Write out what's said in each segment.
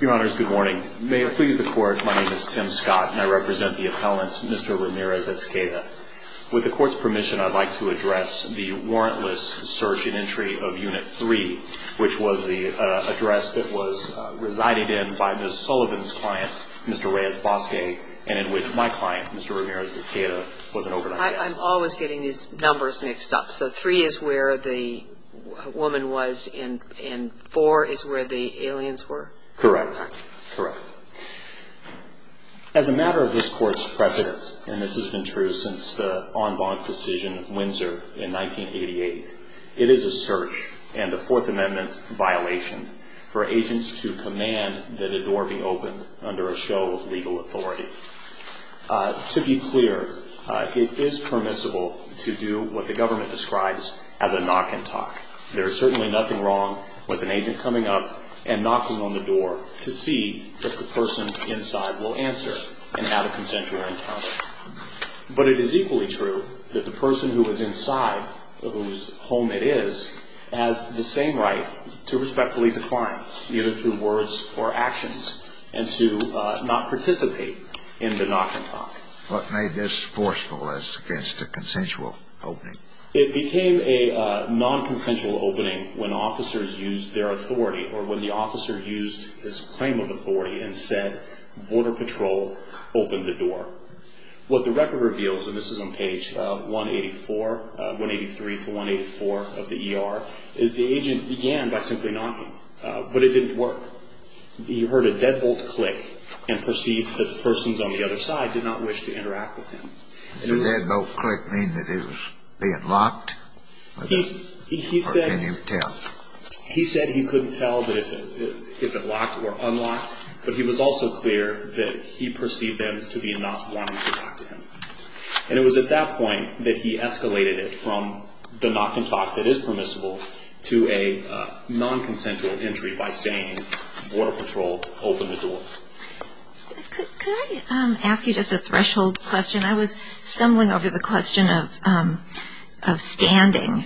Your honors, good morning. May it please the court, my name is Tim Scott and I represent the appellant Mr. Ramirez-Escada. With the court's permission, I'd like to address the warrantless search and entry of Unit 3, which was the address that was resided in by Ms. Sullivan's client, Mr. Reyes-Bosque, and in which my client, Mr. Ramirez-Escada, was an overnight guest. I'm always getting these numbers mixed up, so 3 is where the woman was and 4 is where the aliens were? Correct, correct. As a matter of this court's precedence, and this has been true since the en banc decision of Windsor in 1988, it is a search and a Fourth Amendment violation for agents to command that a door be opened under a show of legal authority. To be clear, it is permissible to do what the government describes as a knock and talk. There is certainly nothing wrong with an agent coming up and knocking on the door to see if the person inside will answer and have a consensual encounter. But it is equally true that the person who is inside, whose home it is, has the same right to respectfully define, either through words or actions, and to not participate in the knock and talk. What made this forceful as against a consensual opening? It became a nonconsensual opening when officers used their authority, or when the officer used his claim of authority and said, Border Patrol, open the door. What the record reveals, and this is on page 184, 183 to 184 of the ER, is the agent began by simply knocking. But it didn't work. He heard a deadbolt click and perceived that the persons on the other side did not wish to interact with him. Did the deadbolt click mean that it was being locked, or can you tell? He said he couldn't tell if it locked or unlocked, but he was also clear that he perceived them to be not wanting to talk to him. And it was at that point that he escalated it from the knock and talk that is permissible to a nonconsensual entry by saying, Border Patrol, open the door. Could I ask you just a threshold question? I was stumbling over the question of standing.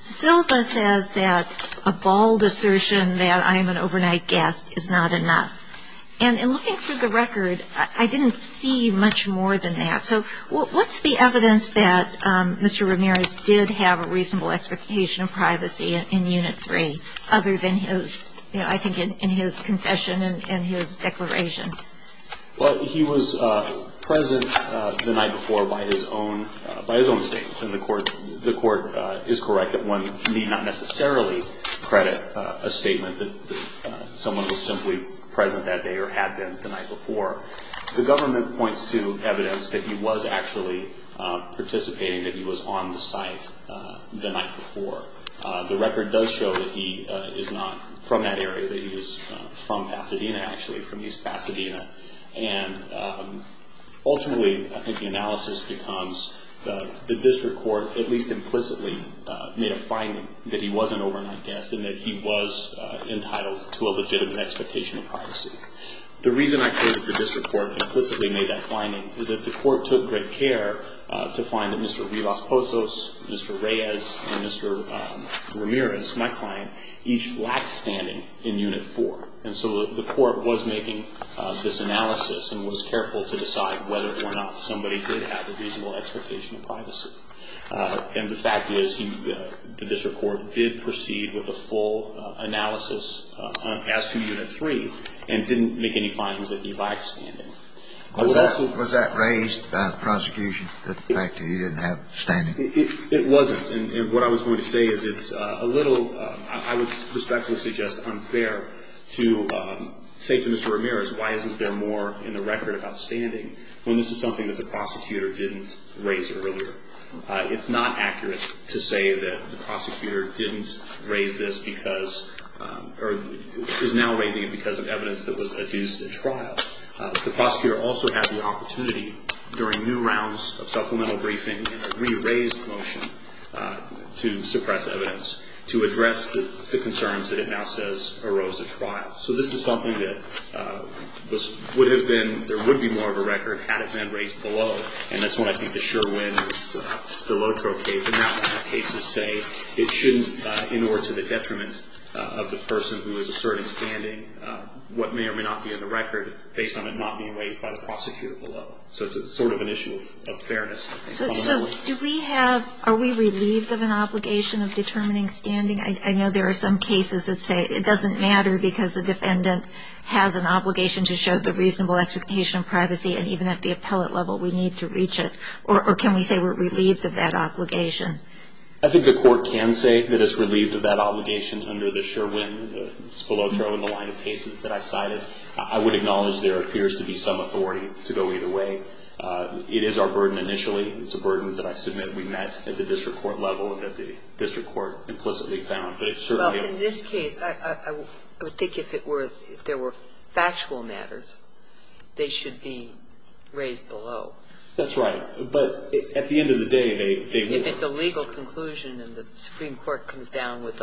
Silva says that a bald assertion that I am an overnight guest is not enough. And in looking through the record, I didn't see much more than that. So what's the evidence that Mr. Ramirez did have a reasonable expectation of privacy in Unit 3, other than his, you know, I think in his confession and his declaration? Well, he was present the night before by his own statement. And the court is correct that one may not necessarily credit a statement that someone was simply present that day or had been the night before. The government points to evidence that he was actually participating, that he was on the site the night before. The record does show that he is not from that area, that he is from Pasadena, actually, from East Pasadena. And ultimately, I think the analysis becomes that the district court at least implicitly made a finding that he was an overnight guest and that he was entitled to a legitimate expectation of privacy. The reason I say that the district court implicitly made that finding is that the court took great care to find that Mr. Rivas-Posos, Mr. Reyes, and Mr. Ramirez, my client, each lacked standing in Unit 4. And so the court was making this analysis and was careful to decide whether or not somebody did have a reasonable expectation of privacy. And the fact is the district court did proceed with a full analysis as to Unit 3 and didn't make any findings that he lacked standing. Was that raised by the prosecution, the fact that he didn't have standing? It wasn't. And what I was going to say is it's a little, I would respectfully suggest, unfair to say to Mr. Ramirez, why isn't there more in the record about standing when this is something that the prosecutor didn't raise earlier? It's not accurate to say that the prosecutor didn't raise this because, or is now raising it because of evidence that was adduced at trial. The prosecutor also had the opportunity during new rounds of supplemental briefing and a re-raised motion to suppress evidence, to address the concerns that it now says arose at trial. So this is something that would have been, there would be more of a record had it been raised below, and that's when I think the sure win is the Lotro case. And now cases say it shouldn't, in order to the detriment of the person who is asserting standing, what may or may not be in the record based on it not being raised by the prosecutor below. So it's sort of an issue of fairness. So do we have, are we relieved of an obligation of determining standing? I know there are some cases that say it doesn't matter because the defendant has an obligation to show the reasonable expectation of privacy, and even at the appellate level we need to reach it. Or can we say we're relieved of that obligation? I think the court can say that it's relieved of that obligation under the sure win. It's below Lotro in the line of cases that I cited. I would acknowledge there appears to be some authority to go either way. It is our burden initially. It's a burden that I submit we met at the district court level and that the district court implicitly found. But it certainly. Well, in this case, I would think if it were, if there were factual matters, they should be raised below. That's right. But at the end of the day, they would. If it's a legal conclusion and the Supreme Court comes down with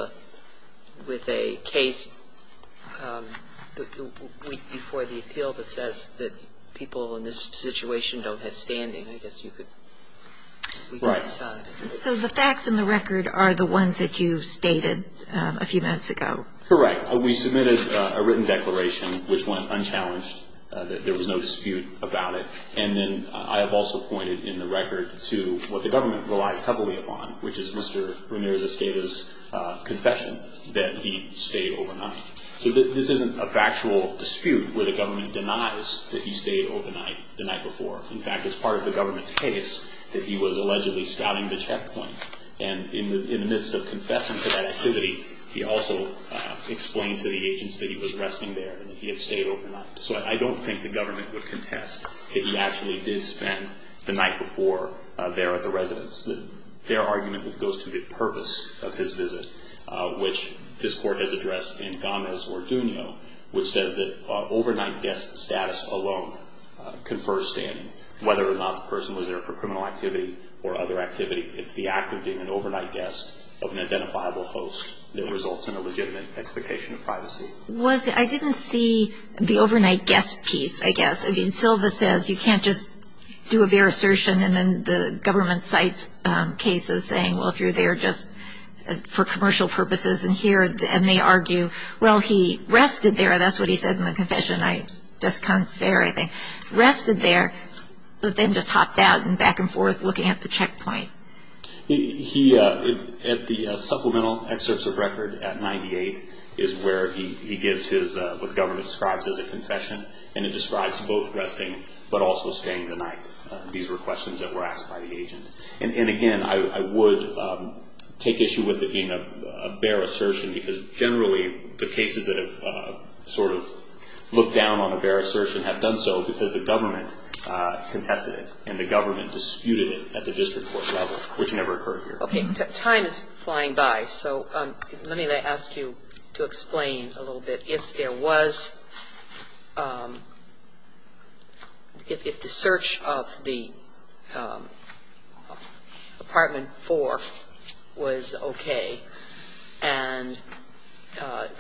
a case before the appeal that says that people in this situation don't have standing, I guess you could decide. Right. So the facts in the record are the ones that you stated a few minutes ago. Correct. We submitted a written declaration which went unchallenged. There was no dispute about it. And then I have also pointed in the record to what the government relies heavily upon, which is Mr. Ramirez-Esteva's confession that he stayed overnight. So this isn't a factual dispute where the government denies that he stayed overnight the night before. In fact, it's part of the government's case that he was allegedly scouting the checkpoint. And in the midst of confessing to that activity, he also explains to the agents that he was resting there and that he had stayed overnight. So I don't think the government would contest that he actually did spend the night before there at the residence. Their argument goes to the purpose of his visit, which this Court has addressed in Gámez or Duño, which says that overnight guest status alone confers standing, whether or not the person was there for criminal activity or other activity. It's the act of being an overnight guest of an identifiable host that results in a legitimate expectation of privacy. I didn't see the overnight guest piece, I guess. I mean, Silva says you can't just do a bare assertion and then the government cites cases saying, well, if you're there just for commercial purposes and here, and they argue, well, he rested there. That's what he said in the confession. I just can't say or anything. Rested there, but then just hopped out and back and forth looking at the checkpoint. The supplemental excerpts of record at 98 is where he gives what the government describes as a confession, and it describes both resting but also staying the night. These were questions that were asked by the agent. And again, I would take issue with it being a bare assertion because generally the cases that have sort of looked down on a bare assertion have done so because the government contested it and the government disputed it at the district court level, which never occurred here. Okay. Time is flying by. So let me ask you to explain a little bit if there was, if the search of the Apartment 4 was okay and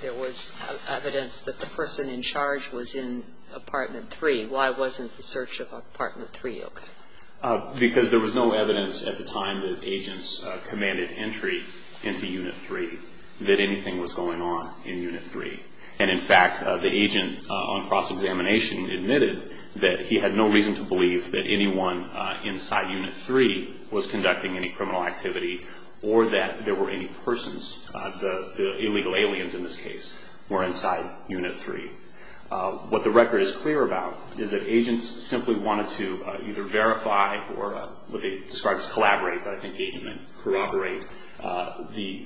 there was evidence that the person in charge was in Apartment 3, why wasn't the search of Apartment 3 okay? Because there was no evidence at the time that agents commanded entry into Unit 3 that anything was going on in Unit 3. And, in fact, the agent on cross-examination admitted that he had no reason to believe that anyone inside Unit 3 was conducting any criminal activity or that there were any persons, the illegal aliens in this case, were inside Unit 3. What the record is clear about is that agents simply wanted to either verify or what they describe as collaborate, but I think agent meant corroborate, the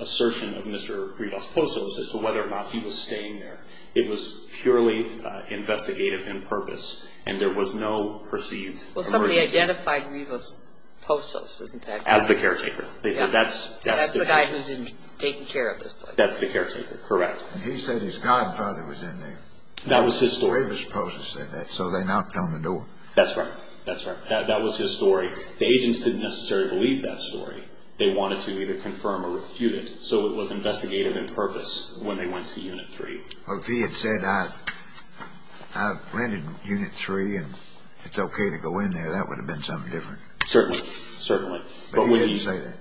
assertion of Mr. Rivas-Posos as to whether or not he was staying there. It was purely investigative in purpose, and there was no perceived emergency. Well, somebody identified Rivas-Posos, isn't that correct? As the caretaker. They said that's the guy who's taking care of this place. That's the caretaker. Correct. And he said his godfather was in there. That was his story. Rivas-Posos said that, so they knocked on the door. That's right. That's right. That was his story. The agents didn't necessarily believe that story. They wanted to either confirm or refute it, so it was investigative in purpose when they went to Unit 3. Well, if he had said I've rented Unit 3 and it's okay to go in there, that would have been something different. Certainly. Certainly. But he didn't say that.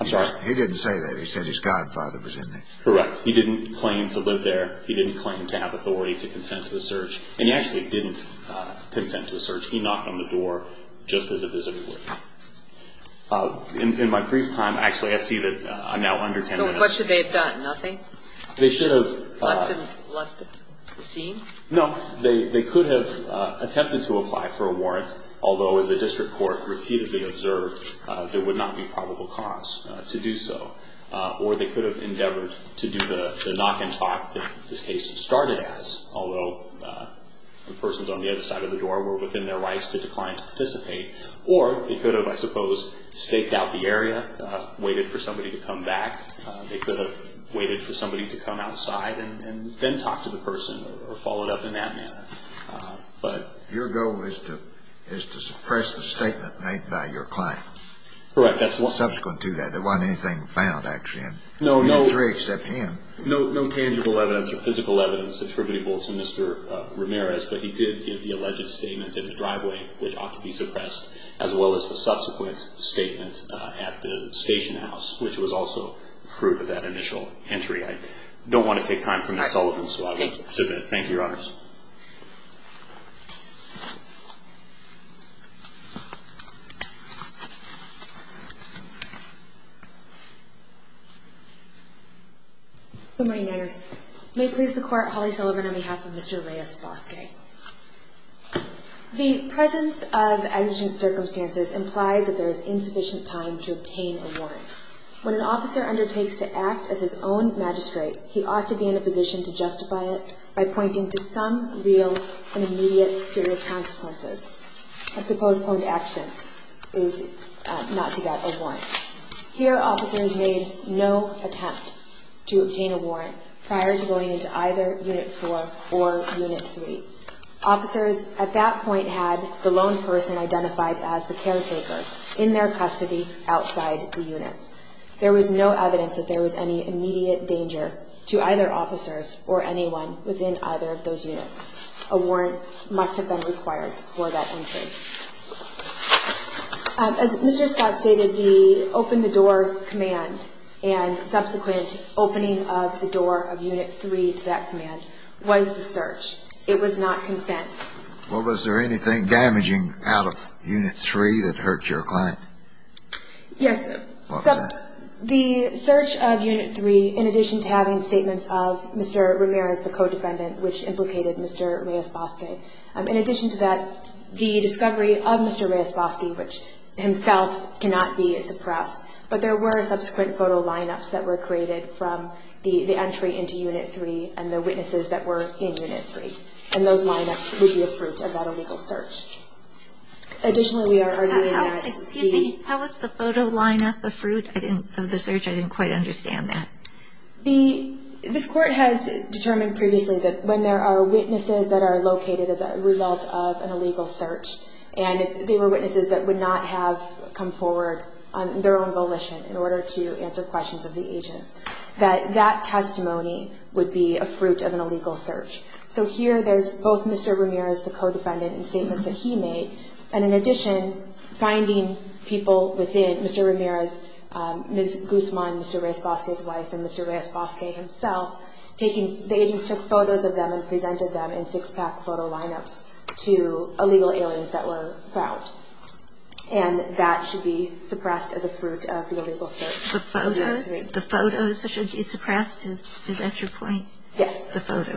I'm sorry? He didn't say that. He said his godfather was in there. Correct. He didn't claim to live there. He didn't claim to have authority to consent to the search, and he actually didn't consent to the search. He knocked on the door just as a visitor would. In my brief time, actually, I see that I'm now under 10 minutes. So what should they have done? Nothing? They should have left the scene? No. They could have attempted to apply for a warrant, although, as the district court repeatedly observed, there would not be probable cause to do so. Or they could have endeavored to do the knock and talk that this case started as, although the persons on the other side of the door were within their rights to decline to participate. Or they could have, I suppose, staked out the area, waited for somebody to come back. They could have waited for somebody to come outside and then talk to the person or follow it up in that manner. Your goal is to suppress the statement made by your client. Correct. Subsequent to that. There wasn't anything found, actually. No, no. You're three except him. No tangible evidence or physical evidence attributable to Mr. Ramirez, but he did give the alleged statement in the driveway, which ought to be suppressed, as well as the subsequent statement at the station house, which was also proof of that initial entry. I don't want to take time for Ms. Sullivan, so I will submit. Thank you, Your Honors. Good morning, Your Honors. May it please the Court, Holly Sullivan on behalf of Mr. Reyes Bosque. The presence of exigent circumstances implies that there is insufficient time to obtain a warrant. When an officer undertakes to act as his own magistrate, he ought to be in a position to justify it by pointing to some real and immediate serious consequences. A supposed action is not to get a warrant. Here, officers made no attempt to obtain a warrant prior to going into either Unit 4 or Unit 3. Officers at that point had the lone person identified as the caretaker in their custody outside the units. There was no evidence that there was any immediate danger to either officers or anyone within either of those units. A warrant must have been required for that entry. As Mr. Scott stated, the open-the-door command and subsequent opening of the door of Unit 3 to that command was the search. It was not consent. Well, was there anything damaging out of Unit 3 that hurt your client? Yes. What was that? The search of Unit 3, in addition to having statements of Mr. Ramirez, the co-defendant, which implicated Mr. Reyes Bosque. In addition to that, the discovery of Mr. Reyes Bosque, which himself cannot be suppressed, but there were subsequent photo lineups that were created from the entry into Unit 3 and the witnesses that were in Unit 3. And those lineups would be a fruit of that illegal search. Additionally, we are already in the SSP. Excuse me. How was the photo lineup a fruit of the search? I didn't quite understand that. This Court has determined previously that when there are witnesses that are located as a result of an illegal search, and they were witnesses that would not have come forward on their own volition in order to answer questions of the agents, that that testimony would be a fruit of an illegal search. So here there's both Mr. Ramirez, the co-defendant, and statements that he made, and in addition, finding people within Mr. Ramirez, Ms. Guzman, Mr. Reyes Bosque's wife, and Mr. Reyes Bosque himself, the agents took photos of them and presented them in six-pack photo lineups to illegal aliens that were found. And that should be suppressed as a fruit of the illegal search. The photos? The photos should be suppressed? Is that your point? Yes. The photos.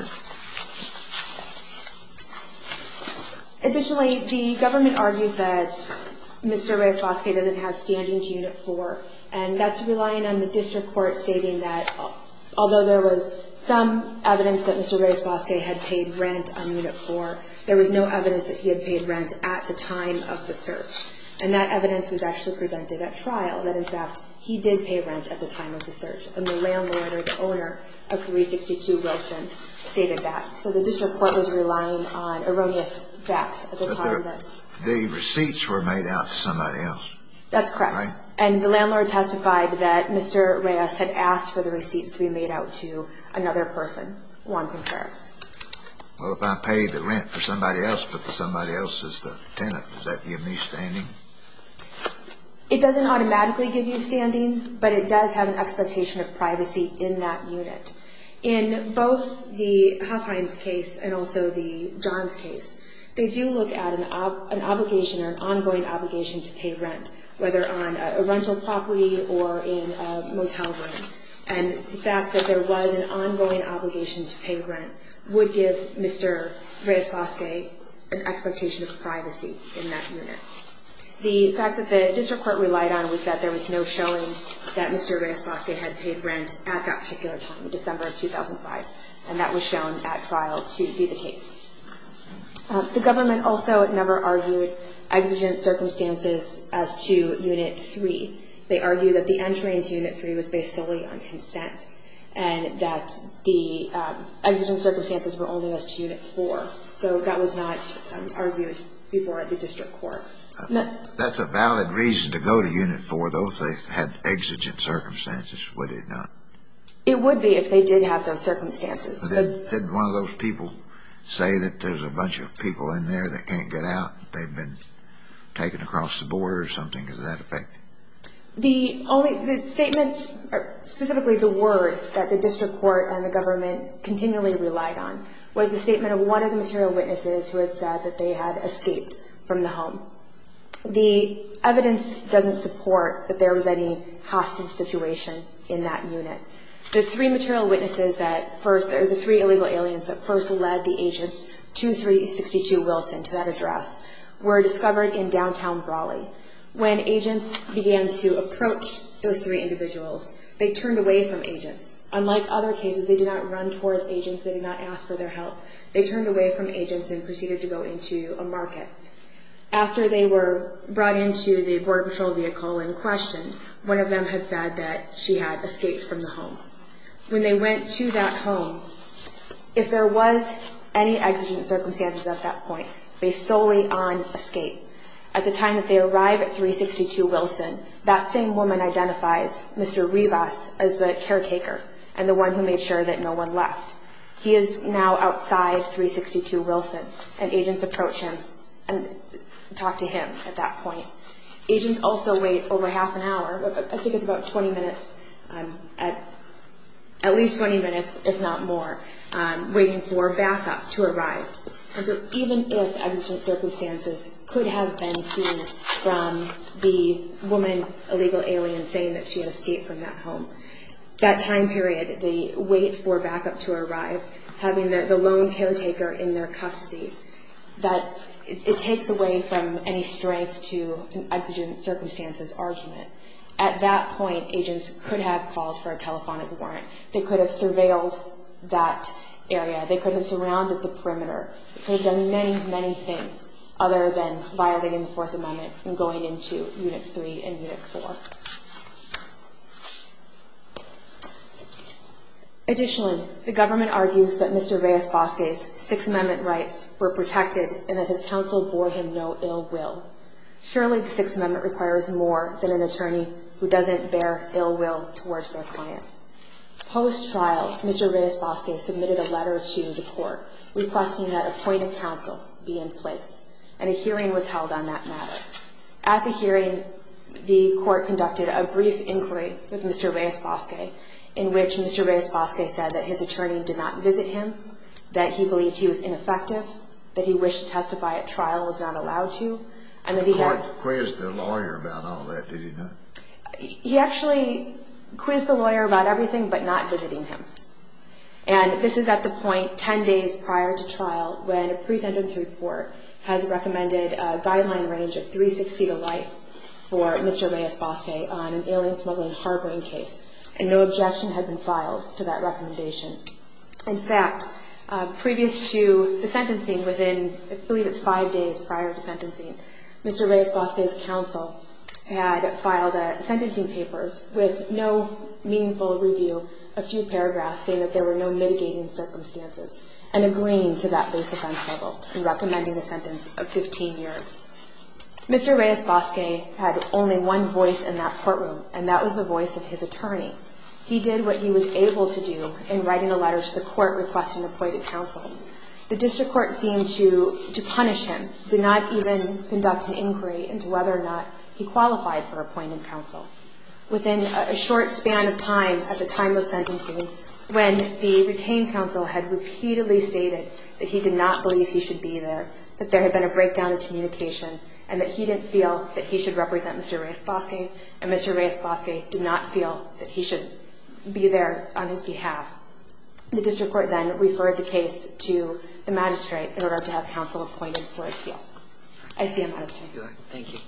Yes. Additionally, the government argues that Mr. Reyes Bosque doesn't have standing to Unit 4, and that's relying on the district court stating that although there was some evidence that Mr. Reyes Bosque had paid rent on Unit 4, there was no evidence that he had paid rent at the time of the search. And that evidence was actually presented at trial, that in fact he did pay rent at the time of the search, and the landlord or the owner of 362 Wilson stated that. So the district court was relying on erroneous facts at the time. The receipts were made out to somebody else. That's correct. And the landlord testified that Mr. Reyes had asked for the receipts to be made out to another person, Juan Contreras. Well, if I paid the rent for somebody else but for somebody else's tenant, does that give me standing? It doesn't automatically give you standing, but it does have an expectation of privacy in that unit. In both the Huffines case and also the Johns case, they do look at an obligation or an ongoing obligation to pay rent, whether on a rental property or in a motel room. And the fact that there was an ongoing obligation to pay rent would give Mr. Reyes Bosque an expectation of privacy in that unit. The fact that the district court relied on was that there was no showing that Mr. Reyes Bosque had paid rent at that particular time, December of 2005, and that was shown at trial to be the case. The government also never argued exigent circumstances as to Unit 3. They argued that the entry into Unit 3 was based solely on consent and that the exigent circumstances were only as to Unit 4. So that was not argued before at the district court. That's a valid reason to go to Unit 4, though, if they had exigent circumstances, would it not? It would be if they did have those circumstances. Didn't one of those people say that there's a bunch of people in there that can't get out and they've been taken across the border or something? Is that affected? The statement, specifically the word, that the district court and the government continually relied on was the statement of one of the material witnesses who had said that they had escaped from the home. The evidence doesn't support that there was any hostage situation in that unit. The three material witnesses that first, or the three illegal aliens, that first led the agents to 362 Wilson, to that address, were discovered in downtown Raleigh. When agents began to approach those three individuals, they turned away from agents. Unlike other cases, they did not run towards agents. They did not ask for their help. They turned away from agents and proceeded to go into a market. After they were brought into the border patrol vehicle and questioned, one of them had said that she had escaped from the home. When they went to that home, if there was any exigent circumstances at that point, based solely on escape, at the time that they arrive at 362 Wilson, that same woman identifies Mr. Rivas as the caretaker and the one who made sure that no one left. He is now outside 362 Wilson, and agents approach him and talk to him at that point. Agents also wait over half an hour, I think it's about 20 minutes, at least 20 minutes if not more, waiting for backup to arrive. Even if exigent circumstances could have been seen from the woman illegal alien saying that she had escaped from that home, that time period, the wait for backup to arrive, having the lone caretaker in their custody, that it takes away from any strength to an exigent circumstances argument. At that point, agents could have called for a telephonic warrant. They could have surveilled that area. They could have surrounded the perimeter. They could have done many, many things other than violating the Fourth Amendment and going into Unix 3 and Unix 4. Additionally, the government argues that Mr. Rivas Bosque's Sixth Amendment rights were protected and that his counsel bore him no ill will. Surely the Sixth Amendment requires more than an attorney who doesn't bear ill will towards their client. Post-trial, Mr. Rivas Bosque submitted a letter to the court requesting that a point of counsel be in place, and a hearing was held on that matter. At the hearing, the court conducted a brief inquiry with Mr. Rivas Bosque in which Mr. Rivas Bosque said that his attorney did not visit him, that he believed he was ineffective, that he wished to testify at trial and was not allowed to. The court quizzed the lawyer about all that, did it not? He actually quizzed the lawyer about everything but not visiting him. And this is at the point 10 days prior to trial when a pre-sentence report has recommended a guideline range of 360 to life for Mr. Rivas Bosque on an alien smuggling harboring case, and no objection had been filed to that recommendation. In fact, previous to the sentencing, within, I believe it's five days prior to sentencing, Mr. Rivas Bosque's counsel had filed sentencing papers with no meaningful review, a few paragraphs saying that there were no mitigating circumstances, and agreeing to that base offense level in recommending the sentence of 15 years. Mr. Rivas Bosque had only one voice in that courtroom, and that was the voice of his attorney. He did what he was able to do in writing a letter to the court requesting a point of counsel. The district court seemed to punish him, did not even conduct an inquiry into whether or not he qualified for a point of counsel. Within a short span of time, at the time of sentencing, when the retained counsel had repeatedly stated that he did not believe he should be there, that there had been a breakdown in communication, and that he didn't feel that he should represent Mr. Rivas Bosque, and Mr. Rivas Bosque did not feel that he should be there on his behalf, the district court then referred the case to the magistrate in order to have counsel appointed for appeal. I see I'm out of time. Thank you, Your Honor. Thank you.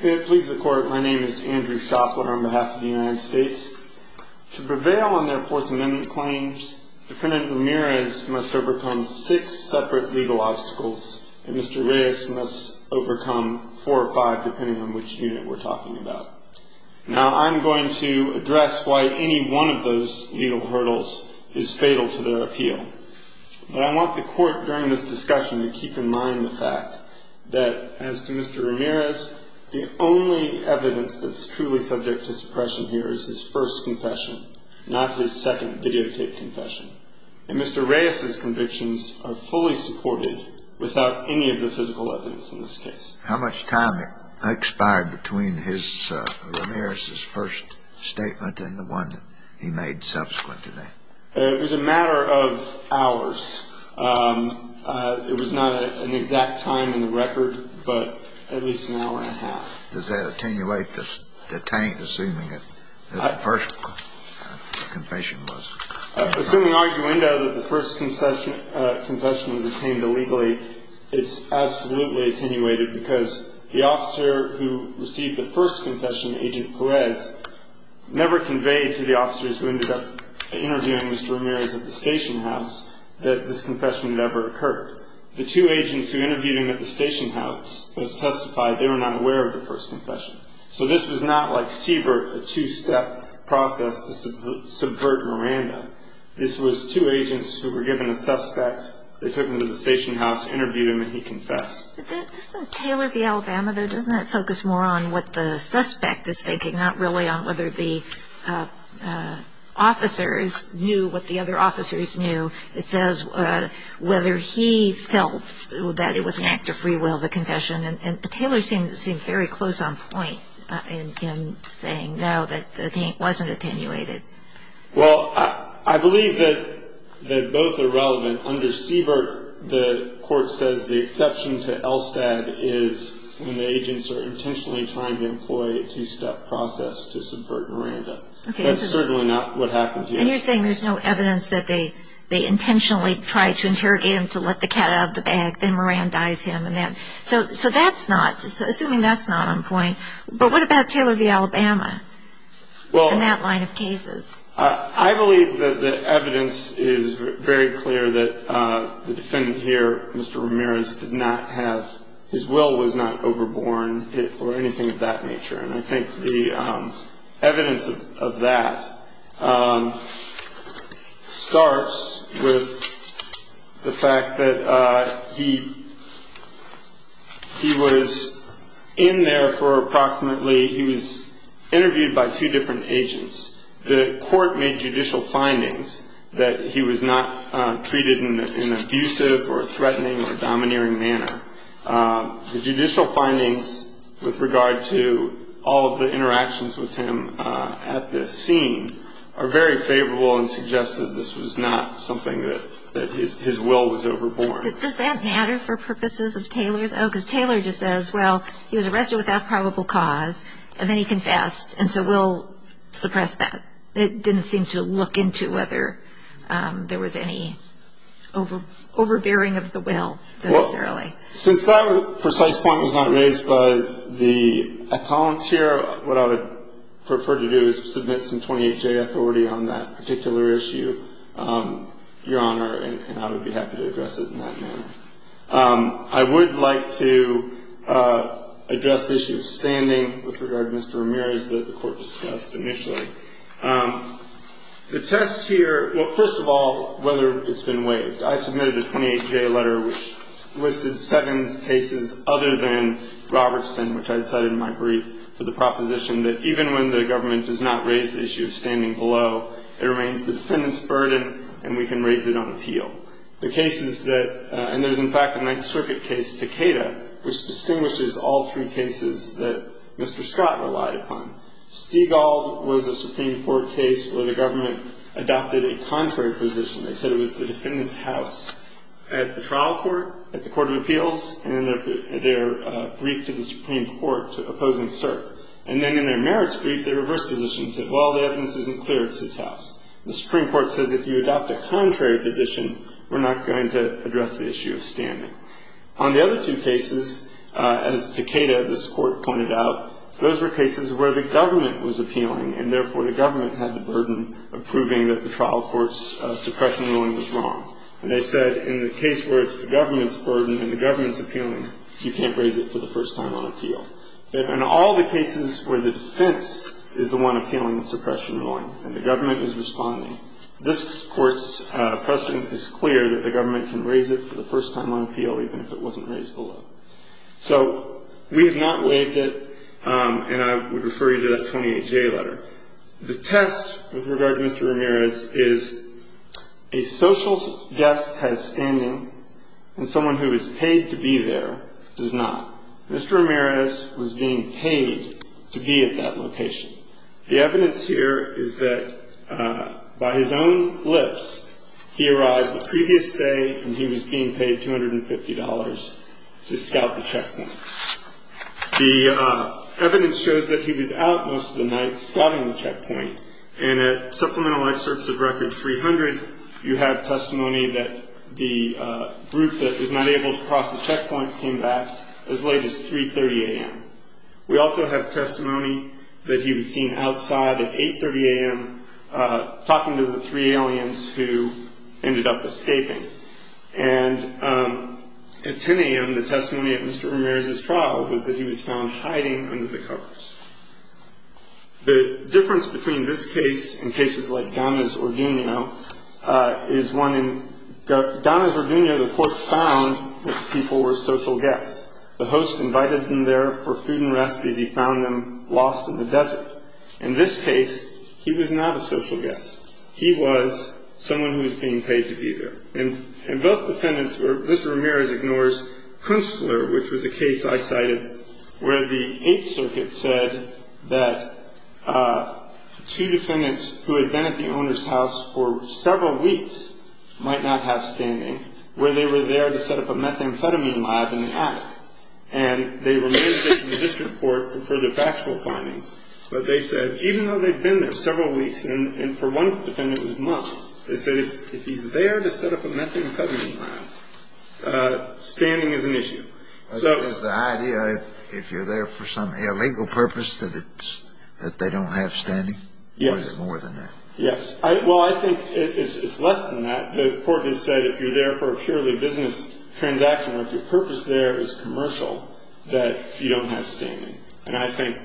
May it please the Court, my name is Andrew Shopler on behalf of the United States. To prevail on their Fourth Amendment claims, defendant Ramirez must overcome six separate legal obstacles, and Mr. Reyes must overcome four or five, depending on which unit we're talking about. Now, I'm going to address why any one of those legal hurdles is fatal to their appeal. But I want the court during this discussion to keep in mind the fact that, as to Mr. Ramirez, the only evidence that's truly subject to suppression here is his first confession, not his second videotaped confession. And Mr. Reyes's convictions are fully supported without any of the physical evidence in this case. How much time expired between Ramirez's first statement and the one he made subsequent to that? It was a matter of hours. It was not an exact time in the record, but at least an hour and a half. Does that attenuate the taint, assuming that the first confession was? Assuming arguendo that the first confession was attained illegally, it's absolutely attenuated because the officer who received the first confession, Agent Perez, never conveyed to the officers who ended up interviewing Mr. Ramirez at the station house that this confession had ever occurred. The two agents who interviewed him at the station house testified they were not aware of the first confession. So this was not like Siebert, a two-step process to subvert Miranda. This was two agents who were given a suspect. They took him to the station house, interviewed him, and he confessed. Doesn't Taylor v. Alabama, though, doesn't that focus more on what the suspect is thinking, not really on whether the officers knew what the other officers knew? It says whether he felt that it was an act of free will, the confession. And Taylor seemed very close on point in saying no, that the taint wasn't attenuated. Well, I believe that both are relevant. Under Siebert, the court says the exception to ELSTAD is when the agents are intentionally trying to employ a two-step process to subvert Miranda. That's certainly not what happened here. And you're saying there's no evidence that they intentionally tried to interrogate him to let the cat out of the bag, then Miranda dies him. So that's not, assuming that's not on point. But what about Taylor v. Alabama in that line of cases? I believe that the evidence is very clear that the defendant here, Mr. Ramirez, did not have, his will was not overborne or anything of that nature. And I think the evidence of that starts with the fact that he was in there for approximately, he was interviewed by two different agents. The court made judicial findings that he was not treated in an abusive or threatening or domineering manner. The judicial findings with regard to all of the interactions with him at this scene are very favorable and suggest that this was not something that his will was overborne. Does that matter for purposes of Taylor, though? Because Taylor just says, well, he was arrested without probable cause, and then he confessed, and so we'll suppress that. It didn't seem to look into whether there was any overbearing of the will, necessarily. Well, since that precise point was not raised by a volunteer, what I would prefer to do is submit some 28-J authority on that particular issue, Your Honor, and I would be happy to address it in that manner. I would like to address the issue of standing with regard to Mr. Ramirez that the court discussed initially. The test here, well, first of all, whether it's been waived. I submitted a 28-J letter which listed seven cases other than Robertson, which I cited in my brief for the proposition that even when the government does not raise the issue of standing below, it remains the defendant's burden and we can raise it on appeal. The cases that – and there's, in fact, a Ninth Circuit case, Takeda, which distinguishes all three cases that Mr. Scott relied upon. Stigall was a Supreme Court case where the government adopted a contrary position. They said it was the defendant's house at the trial court, at the court of appeals, and in their brief to the Supreme Court opposing cert. And then in their merits brief, their reverse position said, well, the evidence isn't clear. It's his house. The Supreme Court says if you adopt a contrary position, we're not going to address the issue of standing. On the other two cases, as Takeda, this court, pointed out, those were cases where the government was appealing and, therefore, the government had the burden of proving that the trial court's suppression ruling was wrong. And they said in the case where it's the government's burden and the government's appealing, you can't raise it for the first time on appeal. In all the cases where the defense is the one appealing the suppression ruling and the government is responding, this court's precedent is clear that the government can raise it for the first time on appeal even if it wasn't raised below. So we have not waived it, and I would refer you to that 28-J letter. The test with regard to Mr. Ramirez is a social guest has standing, and someone who is paid to be there does not. Mr. Ramirez was being paid to be at that location. The evidence here is that by his own lips, he arrived the previous day, and he was being paid $250 to scout the checkpoint. The evidence shows that he was out most of the night scouting the checkpoint, and at Supplemental Life Service of Record 300, you have testimony that the group that was not able to cross the checkpoint came back as late as 3.30 a.m. We also have testimony that he was seen outside at 8.30 a.m. talking to the three aliens who ended up escaping. And at 10 a.m., the testimony of Mr. Ramirez's trial was that he was found hiding under the covers. The difference between this case and cases like Donna's or Gugno is one in Donna's or Gugno, the court found that the people were social guests. The host invited them there for food and recipes. He found them lost in the desert. In this case, he was not a social guest. He was someone who was being paid to be there. And both defendants were—Mr. Ramirez ignores Kunstler, which was a case I cited where the Eighth Circuit said that two defendants who had been at the owner's house for several weeks might not have standing, where they were there to set up a methamphetamine lab in the attic. And they remained there in the district court for further factual findings. But they said even though they'd been there several weeks, and for one defendant it was months, they said if he's there to set up a methamphetamine lab, standing is an issue. So— Is the idea if you're there for some illegal purpose that they don't have standing? Yes. Or is it more than that? Yes. Well, I think it's less than that. The court has said if you're there for a purely business transaction, or if your purpose there is commercial, that you don't have standing. And I think,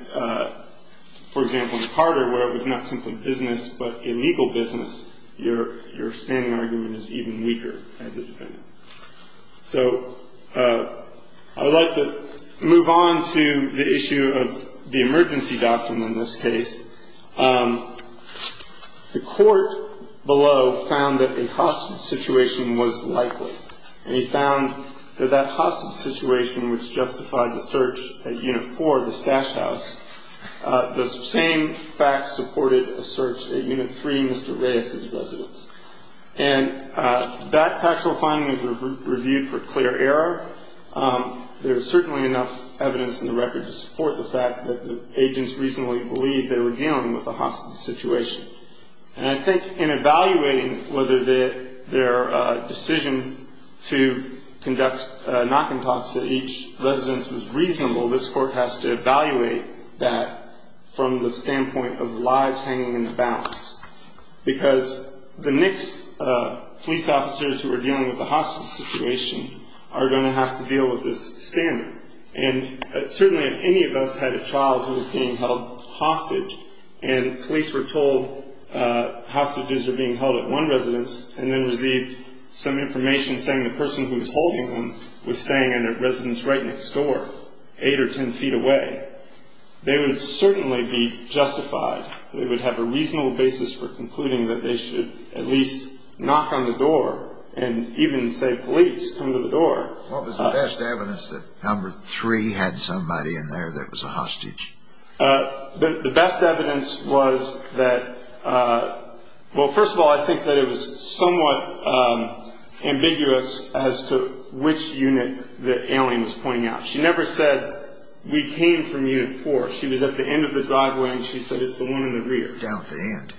for example, in Carter, where it was not simply business but illegal business, your standing argument is even weaker as a defendant. So I would like to move on to the issue of the emergency doctrine in this case. The court below found that a hostage situation was likely. And he found that that hostage situation, which justified the search at Unit 4, the stash house, those same facts supported a search at Unit 3, Mr. Reyes's residence. And that factual finding was reviewed for clear error. There is certainly enough evidence in the record to support the fact that the agents reasonably believed they were dealing with a hostage situation. And I think in evaluating whether their decision to conduct knock-and-talks at each residence was reasonable, this court has to evaluate that from the standpoint of lives hanging in the balance. Because the next police officers who are dealing with a hostage situation are going to have to deal with this standard. And certainly if any of us had a child who was being held hostage, and police were told hostages are being held at one residence, and then received some information saying the person who was holding them was staying in a residence right next door, 8 or 10 feet away, they would certainly be justified. They would have a reasonable basis for concluding that they should at least knock on the door and even say, police, come to the door. What was the best evidence that number 3 had somebody in there that was a hostage? The best evidence was that, well, first of all, I think that it was somewhat ambiguous as to which unit the alien was pointing out. She never said, we came from Unit 4. She was at the end of the driveway, and she said it's the one in the rear. Down at the end.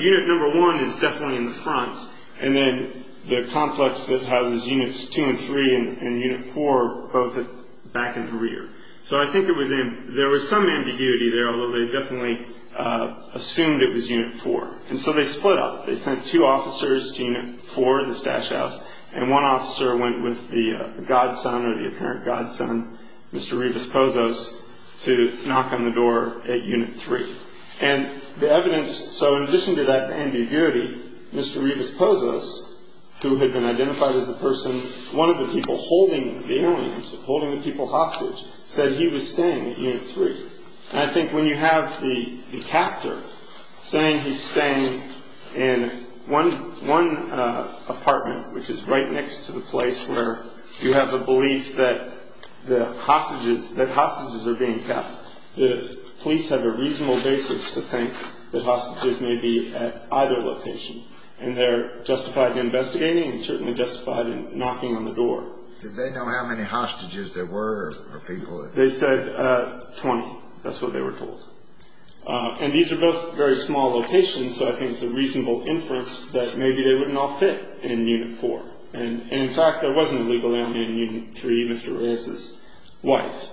Unit number 1 is definitely in the front, and then the complex that houses Units 2 and 3 and Unit 4, both back in the rear. So I think there was some ambiguity there, although they definitely assumed it was Unit 4. And so they split up. They sent two officers to Unit 4, this dash house, and one officer went with the godson or the apparent godson, Mr. Rivas-Pozos, to knock on the door at Unit 3. And the evidence, so in addition to that ambiguity, Mr. Rivas-Pozos, who had been identified as the person, one of the people holding the aliens, holding the people hostage, said he was staying at Unit 3. And I think when you have the captor saying he's staying in one apartment, which is right next to the place where you have the belief that hostages are being kept, the police have a reasonable basis to think that hostages may be at either location. And they're justified in investigating and certainly justified in knocking on the door. Did they know how many hostages there were? They said 20. That's what they were told. And these are both very small locations, so I think it's a reasonable inference that maybe they wouldn't all fit in Unit 4. And, in fact, there was an illegal alien in Unit 3, Mr. Rivas' wife.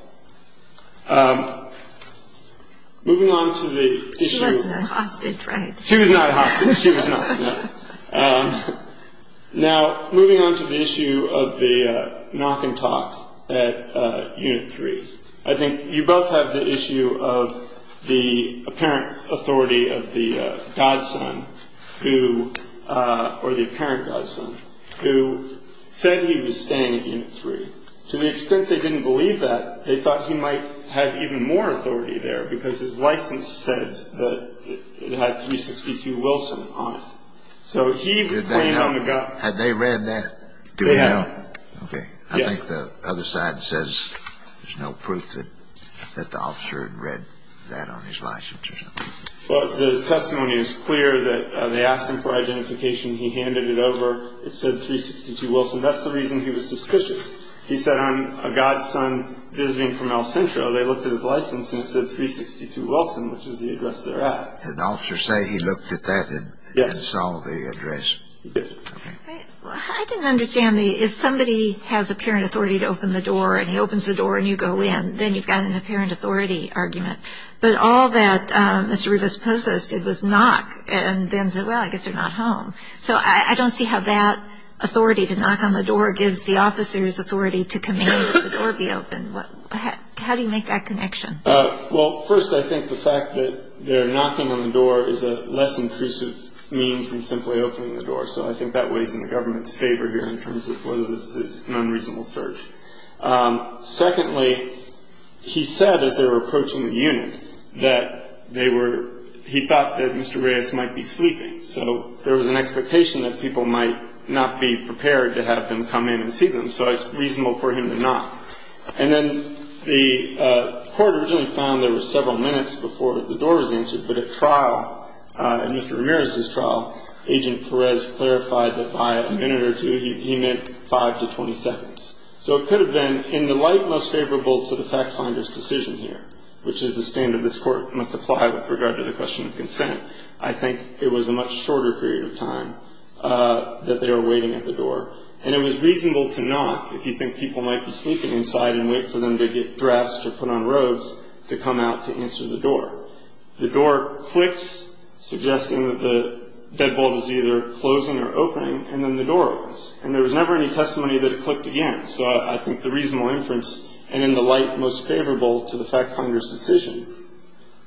Moving on to the issue. She wasn't a hostage, right? She was not a hostage. She was not, no. Now, moving on to the issue of the knock and talk at Unit 3. I think you both have the issue of the apparent authority of the godson, or the apparent godson, who said he was staying at Unit 3. To the extent they didn't believe that, they thought he might have even more authority there because his license said that it had 362 Wilson on it. So he claimed on the godson. Had they read that? They had. Okay. I think the other side says there's no proof that the officer had read that on his license or something. Well, the testimony is clear that they asked him for identification. He handed it over. It said 362 Wilson. That's the reason he was suspicious. He said, I'm a godson visiting from El Centro. They looked at his license, and it said 362 Wilson, which is the address they're at. Did the officer say he looked at that and saw the address? Yes. He did. Okay. Well, I didn't understand the, if somebody has apparent authority to open the door, and he opens the door and you go in, then you've got an apparent authority argument. But all that Mr. Rubis poses did was knock and then said, well, I guess you're not home. So I don't see how that authority to knock on the door gives the officer's authority to command the door be open. How do you make that connection? Well, first, I think the fact that they're knocking on the door is a less intrusive means than simply opening the door. So I think that weighs in the government's favor here in terms of whether this is an unreasonable search. Secondly, he said as they were approaching the unit that they were, he thought that Mr. Reyes might be sleeping. So there was an expectation that people might not be prepared to have him come in and see them. So it's reasonable for him to knock. And then the court originally found there were several minutes before the door was answered. But at trial, at Mr. Ramirez's trial, Agent Perez clarified that by a minute or two, he meant five to 20 seconds. So it could have been in the light most favorable to the fact finder's decision here, which is the standard this court must apply with regard to the question of consent. I think it was a much shorter period of time that they were waiting at the door. And it was reasonable to knock if you think people might be sleeping inside and wait for them to get dressed or put on robes to come out to answer the door. The door clicks, suggesting that the deadbolt is either closing or opening, and then the door opens. And there was never any testimony that it clicked again. So I think the reasonable inference, and in the light most favorable to the fact finder's decision,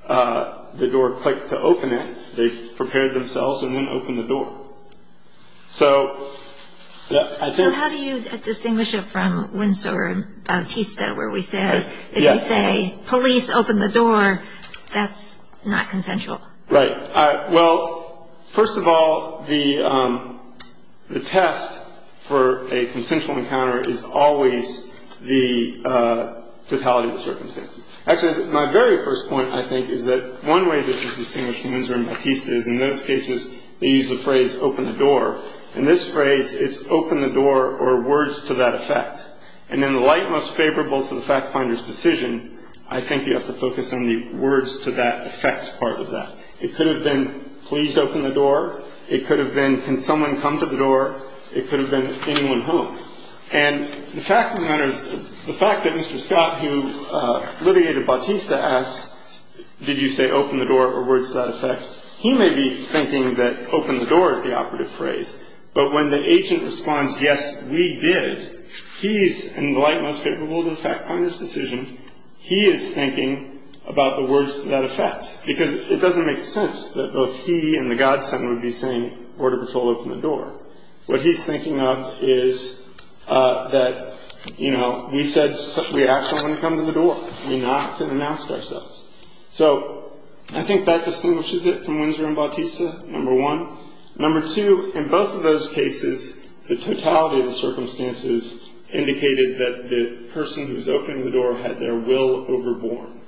the door clicked to open it. They prepared themselves and then opened the door. So, yeah. So how do you distinguish it from Windsor and Bautista, where we said if you say police, open the door, that's not consensual? Right. Well, first of all, the test for a consensual encounter is always the totality of the circumstances. Actually, my very first point, I think, is that one way this is distinguished from Windsor and Bautista is in those cases they use the phrase open the door. In this phrase, it's open the door or words to that effect. And in the light most favorable to the fact finder's decision, I think you have to focus on the words to that effect part of that. It could have been please open the door. It could have been can someone come to the door. It could have been anyone home. And the fact of the matter is the fact that Mr. Scott, who litigated Bautista, asks, did you say open the door or words to that effect? He may be thinking that open the door is the operative phrase. But when the agent responds, yes, we did, he's in the light most favorable to the fact finder's decision. He is thinking about the words to that effect because it doesn't make sense that both he and the godsend would be saying order patrol, open the door. What he's thinking of is that, you know, we said we asked someone to come to the door. We knocked and announced ourselves. So I think that distinguishes it from Windsor and Bautista, number one. Number two, in both of those cases, the totality of the circumstances indicated that the person who's opened the door had their will overborne.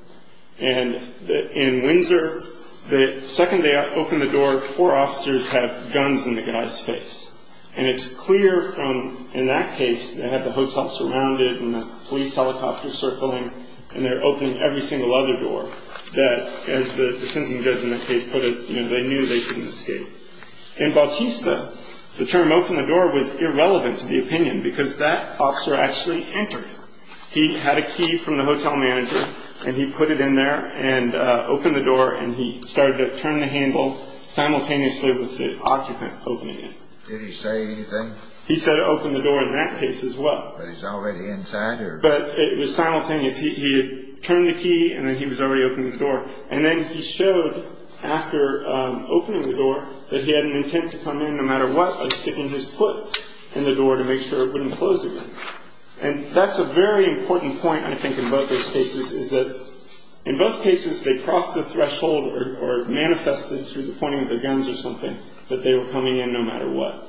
And in Windsor, the second they opened the door, four officers have guns in the guy's face. And it's clear from in that case they had the hotel surrounded and the police helicopter circling and they're opening every single other door that, as the sentencing judge in the case put it, you know, they knew they couldn't escape. In Bautista, the term open the door was irrelevant to the opinion because that officer actually entered. He had a key from the hotel manager and he put it in there and opened the door and he started to turn the handle simultaneously with the occupant opening it. Did he say anything? He said open the door in that case as well. But he's already inside? But it was simultaneous. He turned the key and then he was already opening the door. And then he showed after opening the door that he had an intent to come in no matter what by sticking his foot in the door to make sure it wouldn't close again. And that's a very important point, I think, in both those cases is that in both cases they crossed the threshold or manifested through the pointing of their guns or something that they were coming in no matter what.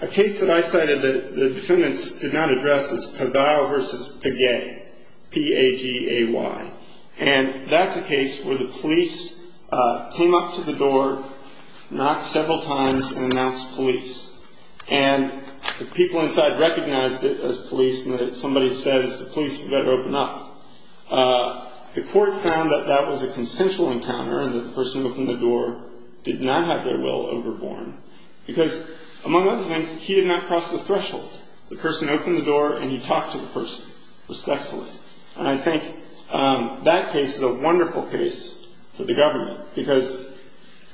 A case that I cited that the defendants did not address is Pagay versus Pagay, P-A-G-A-Y. And that's a case where the police came up to the door, knocked several times and announced police. And the people inside recognized it as police and somebody says the police better open up. The court found that that was a consensual encounter and the person who opened the door did not have their will overborne because, among other things, he did not cross the threshold. The person opened the door and he talked to the person respectfully. And I think that case is a wonderful case for the government because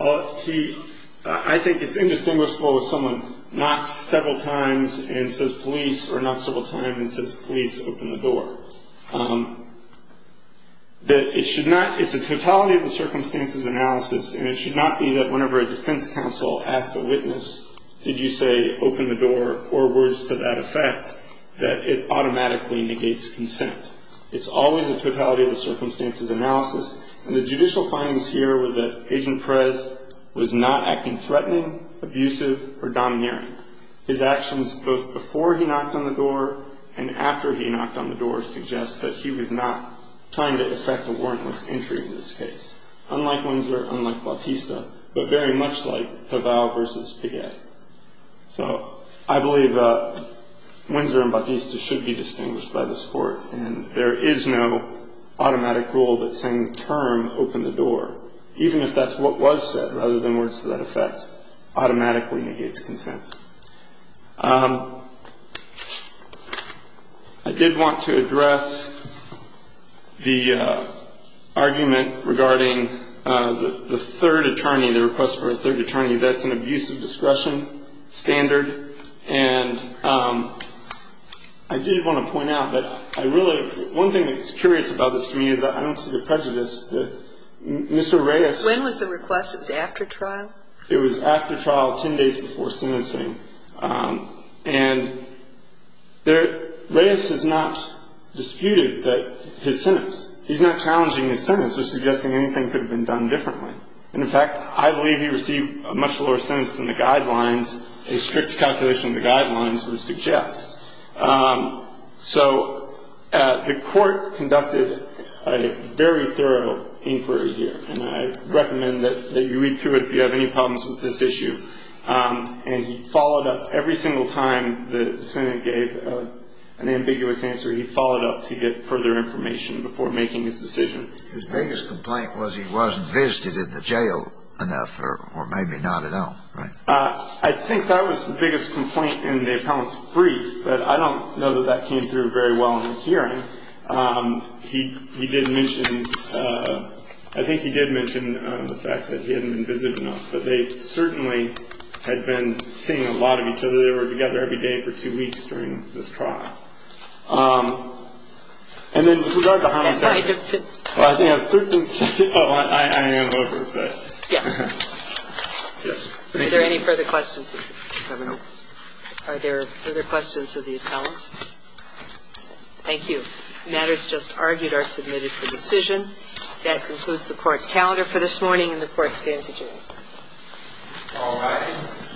I think it's indistinguishable if someone knocks several times and says police or knocks several times and says police, open the door. It's a totality of the circumstances analysis and it should not be that whenever a defense counsel asks a witness, did you say open the door or words to that effect, that it automatically negates consent. It's always a totality of the circumstances analysis. And the judicial findings here were that Agent Perez was not acting threatening, abusive or domineering. His actions both before he knocked on the door and after he knocked on the door suggests that he was not trying to effect a warrantless entry in this case. Unlike Winsor, unlike Bautista, but very much like Havau versus Piguet. So I believe Winsor and Bautista should be distinguished by this court. And there is no automatic rule that saying the term open the door, even if that's what was said rather than words to that effect, automatically negates consent. I did want to address the argument regarding the third attorney, the request for a third attorney. That's an abusive discretion standard. And I did want to point out that I really, one thing that's curious about this to me is I don't see the prejudice that Mr. Reyes. When was the request? It was after trial? It was after trial, 10 days before sentencing. And there, Reyes has not disputed that his sentence, he's not challenging his sentence or suggesting anything could have been done differently. And in fact, I believe he received a much lower sentence than the guidelines, a strict calculation of the guidelines would suggest. So the court conducted a very thorough inquiry here. And I recommend that you read through it if you have any problems with this issue. And he followed up every single time the defendant gave an ambiguous answer. He followed up to get further information before making his decision. His biggest complaint was he wasn't visited in the jail enough or maybe not at all, right? I think that was the biggest complaint in the appellant's brief. But I don't know that that came through very well in the hearing. He did mention, I think he did mention the fact that he hadn't been visited enough. But they certainly had been seeing a lot of each other. They were together every day for two weeks during this trial. And then with regard to how many seconds? Well, I think I have 13 seconds. Oh, I am over, but. Yes. Yes. Thank you. Are there any further questions? Are there further questions of the appellant? Thank you. Matters just argued are submitted for decision. That concludes the Court's calendar for this morning, and the Court stands adjourned. All rise.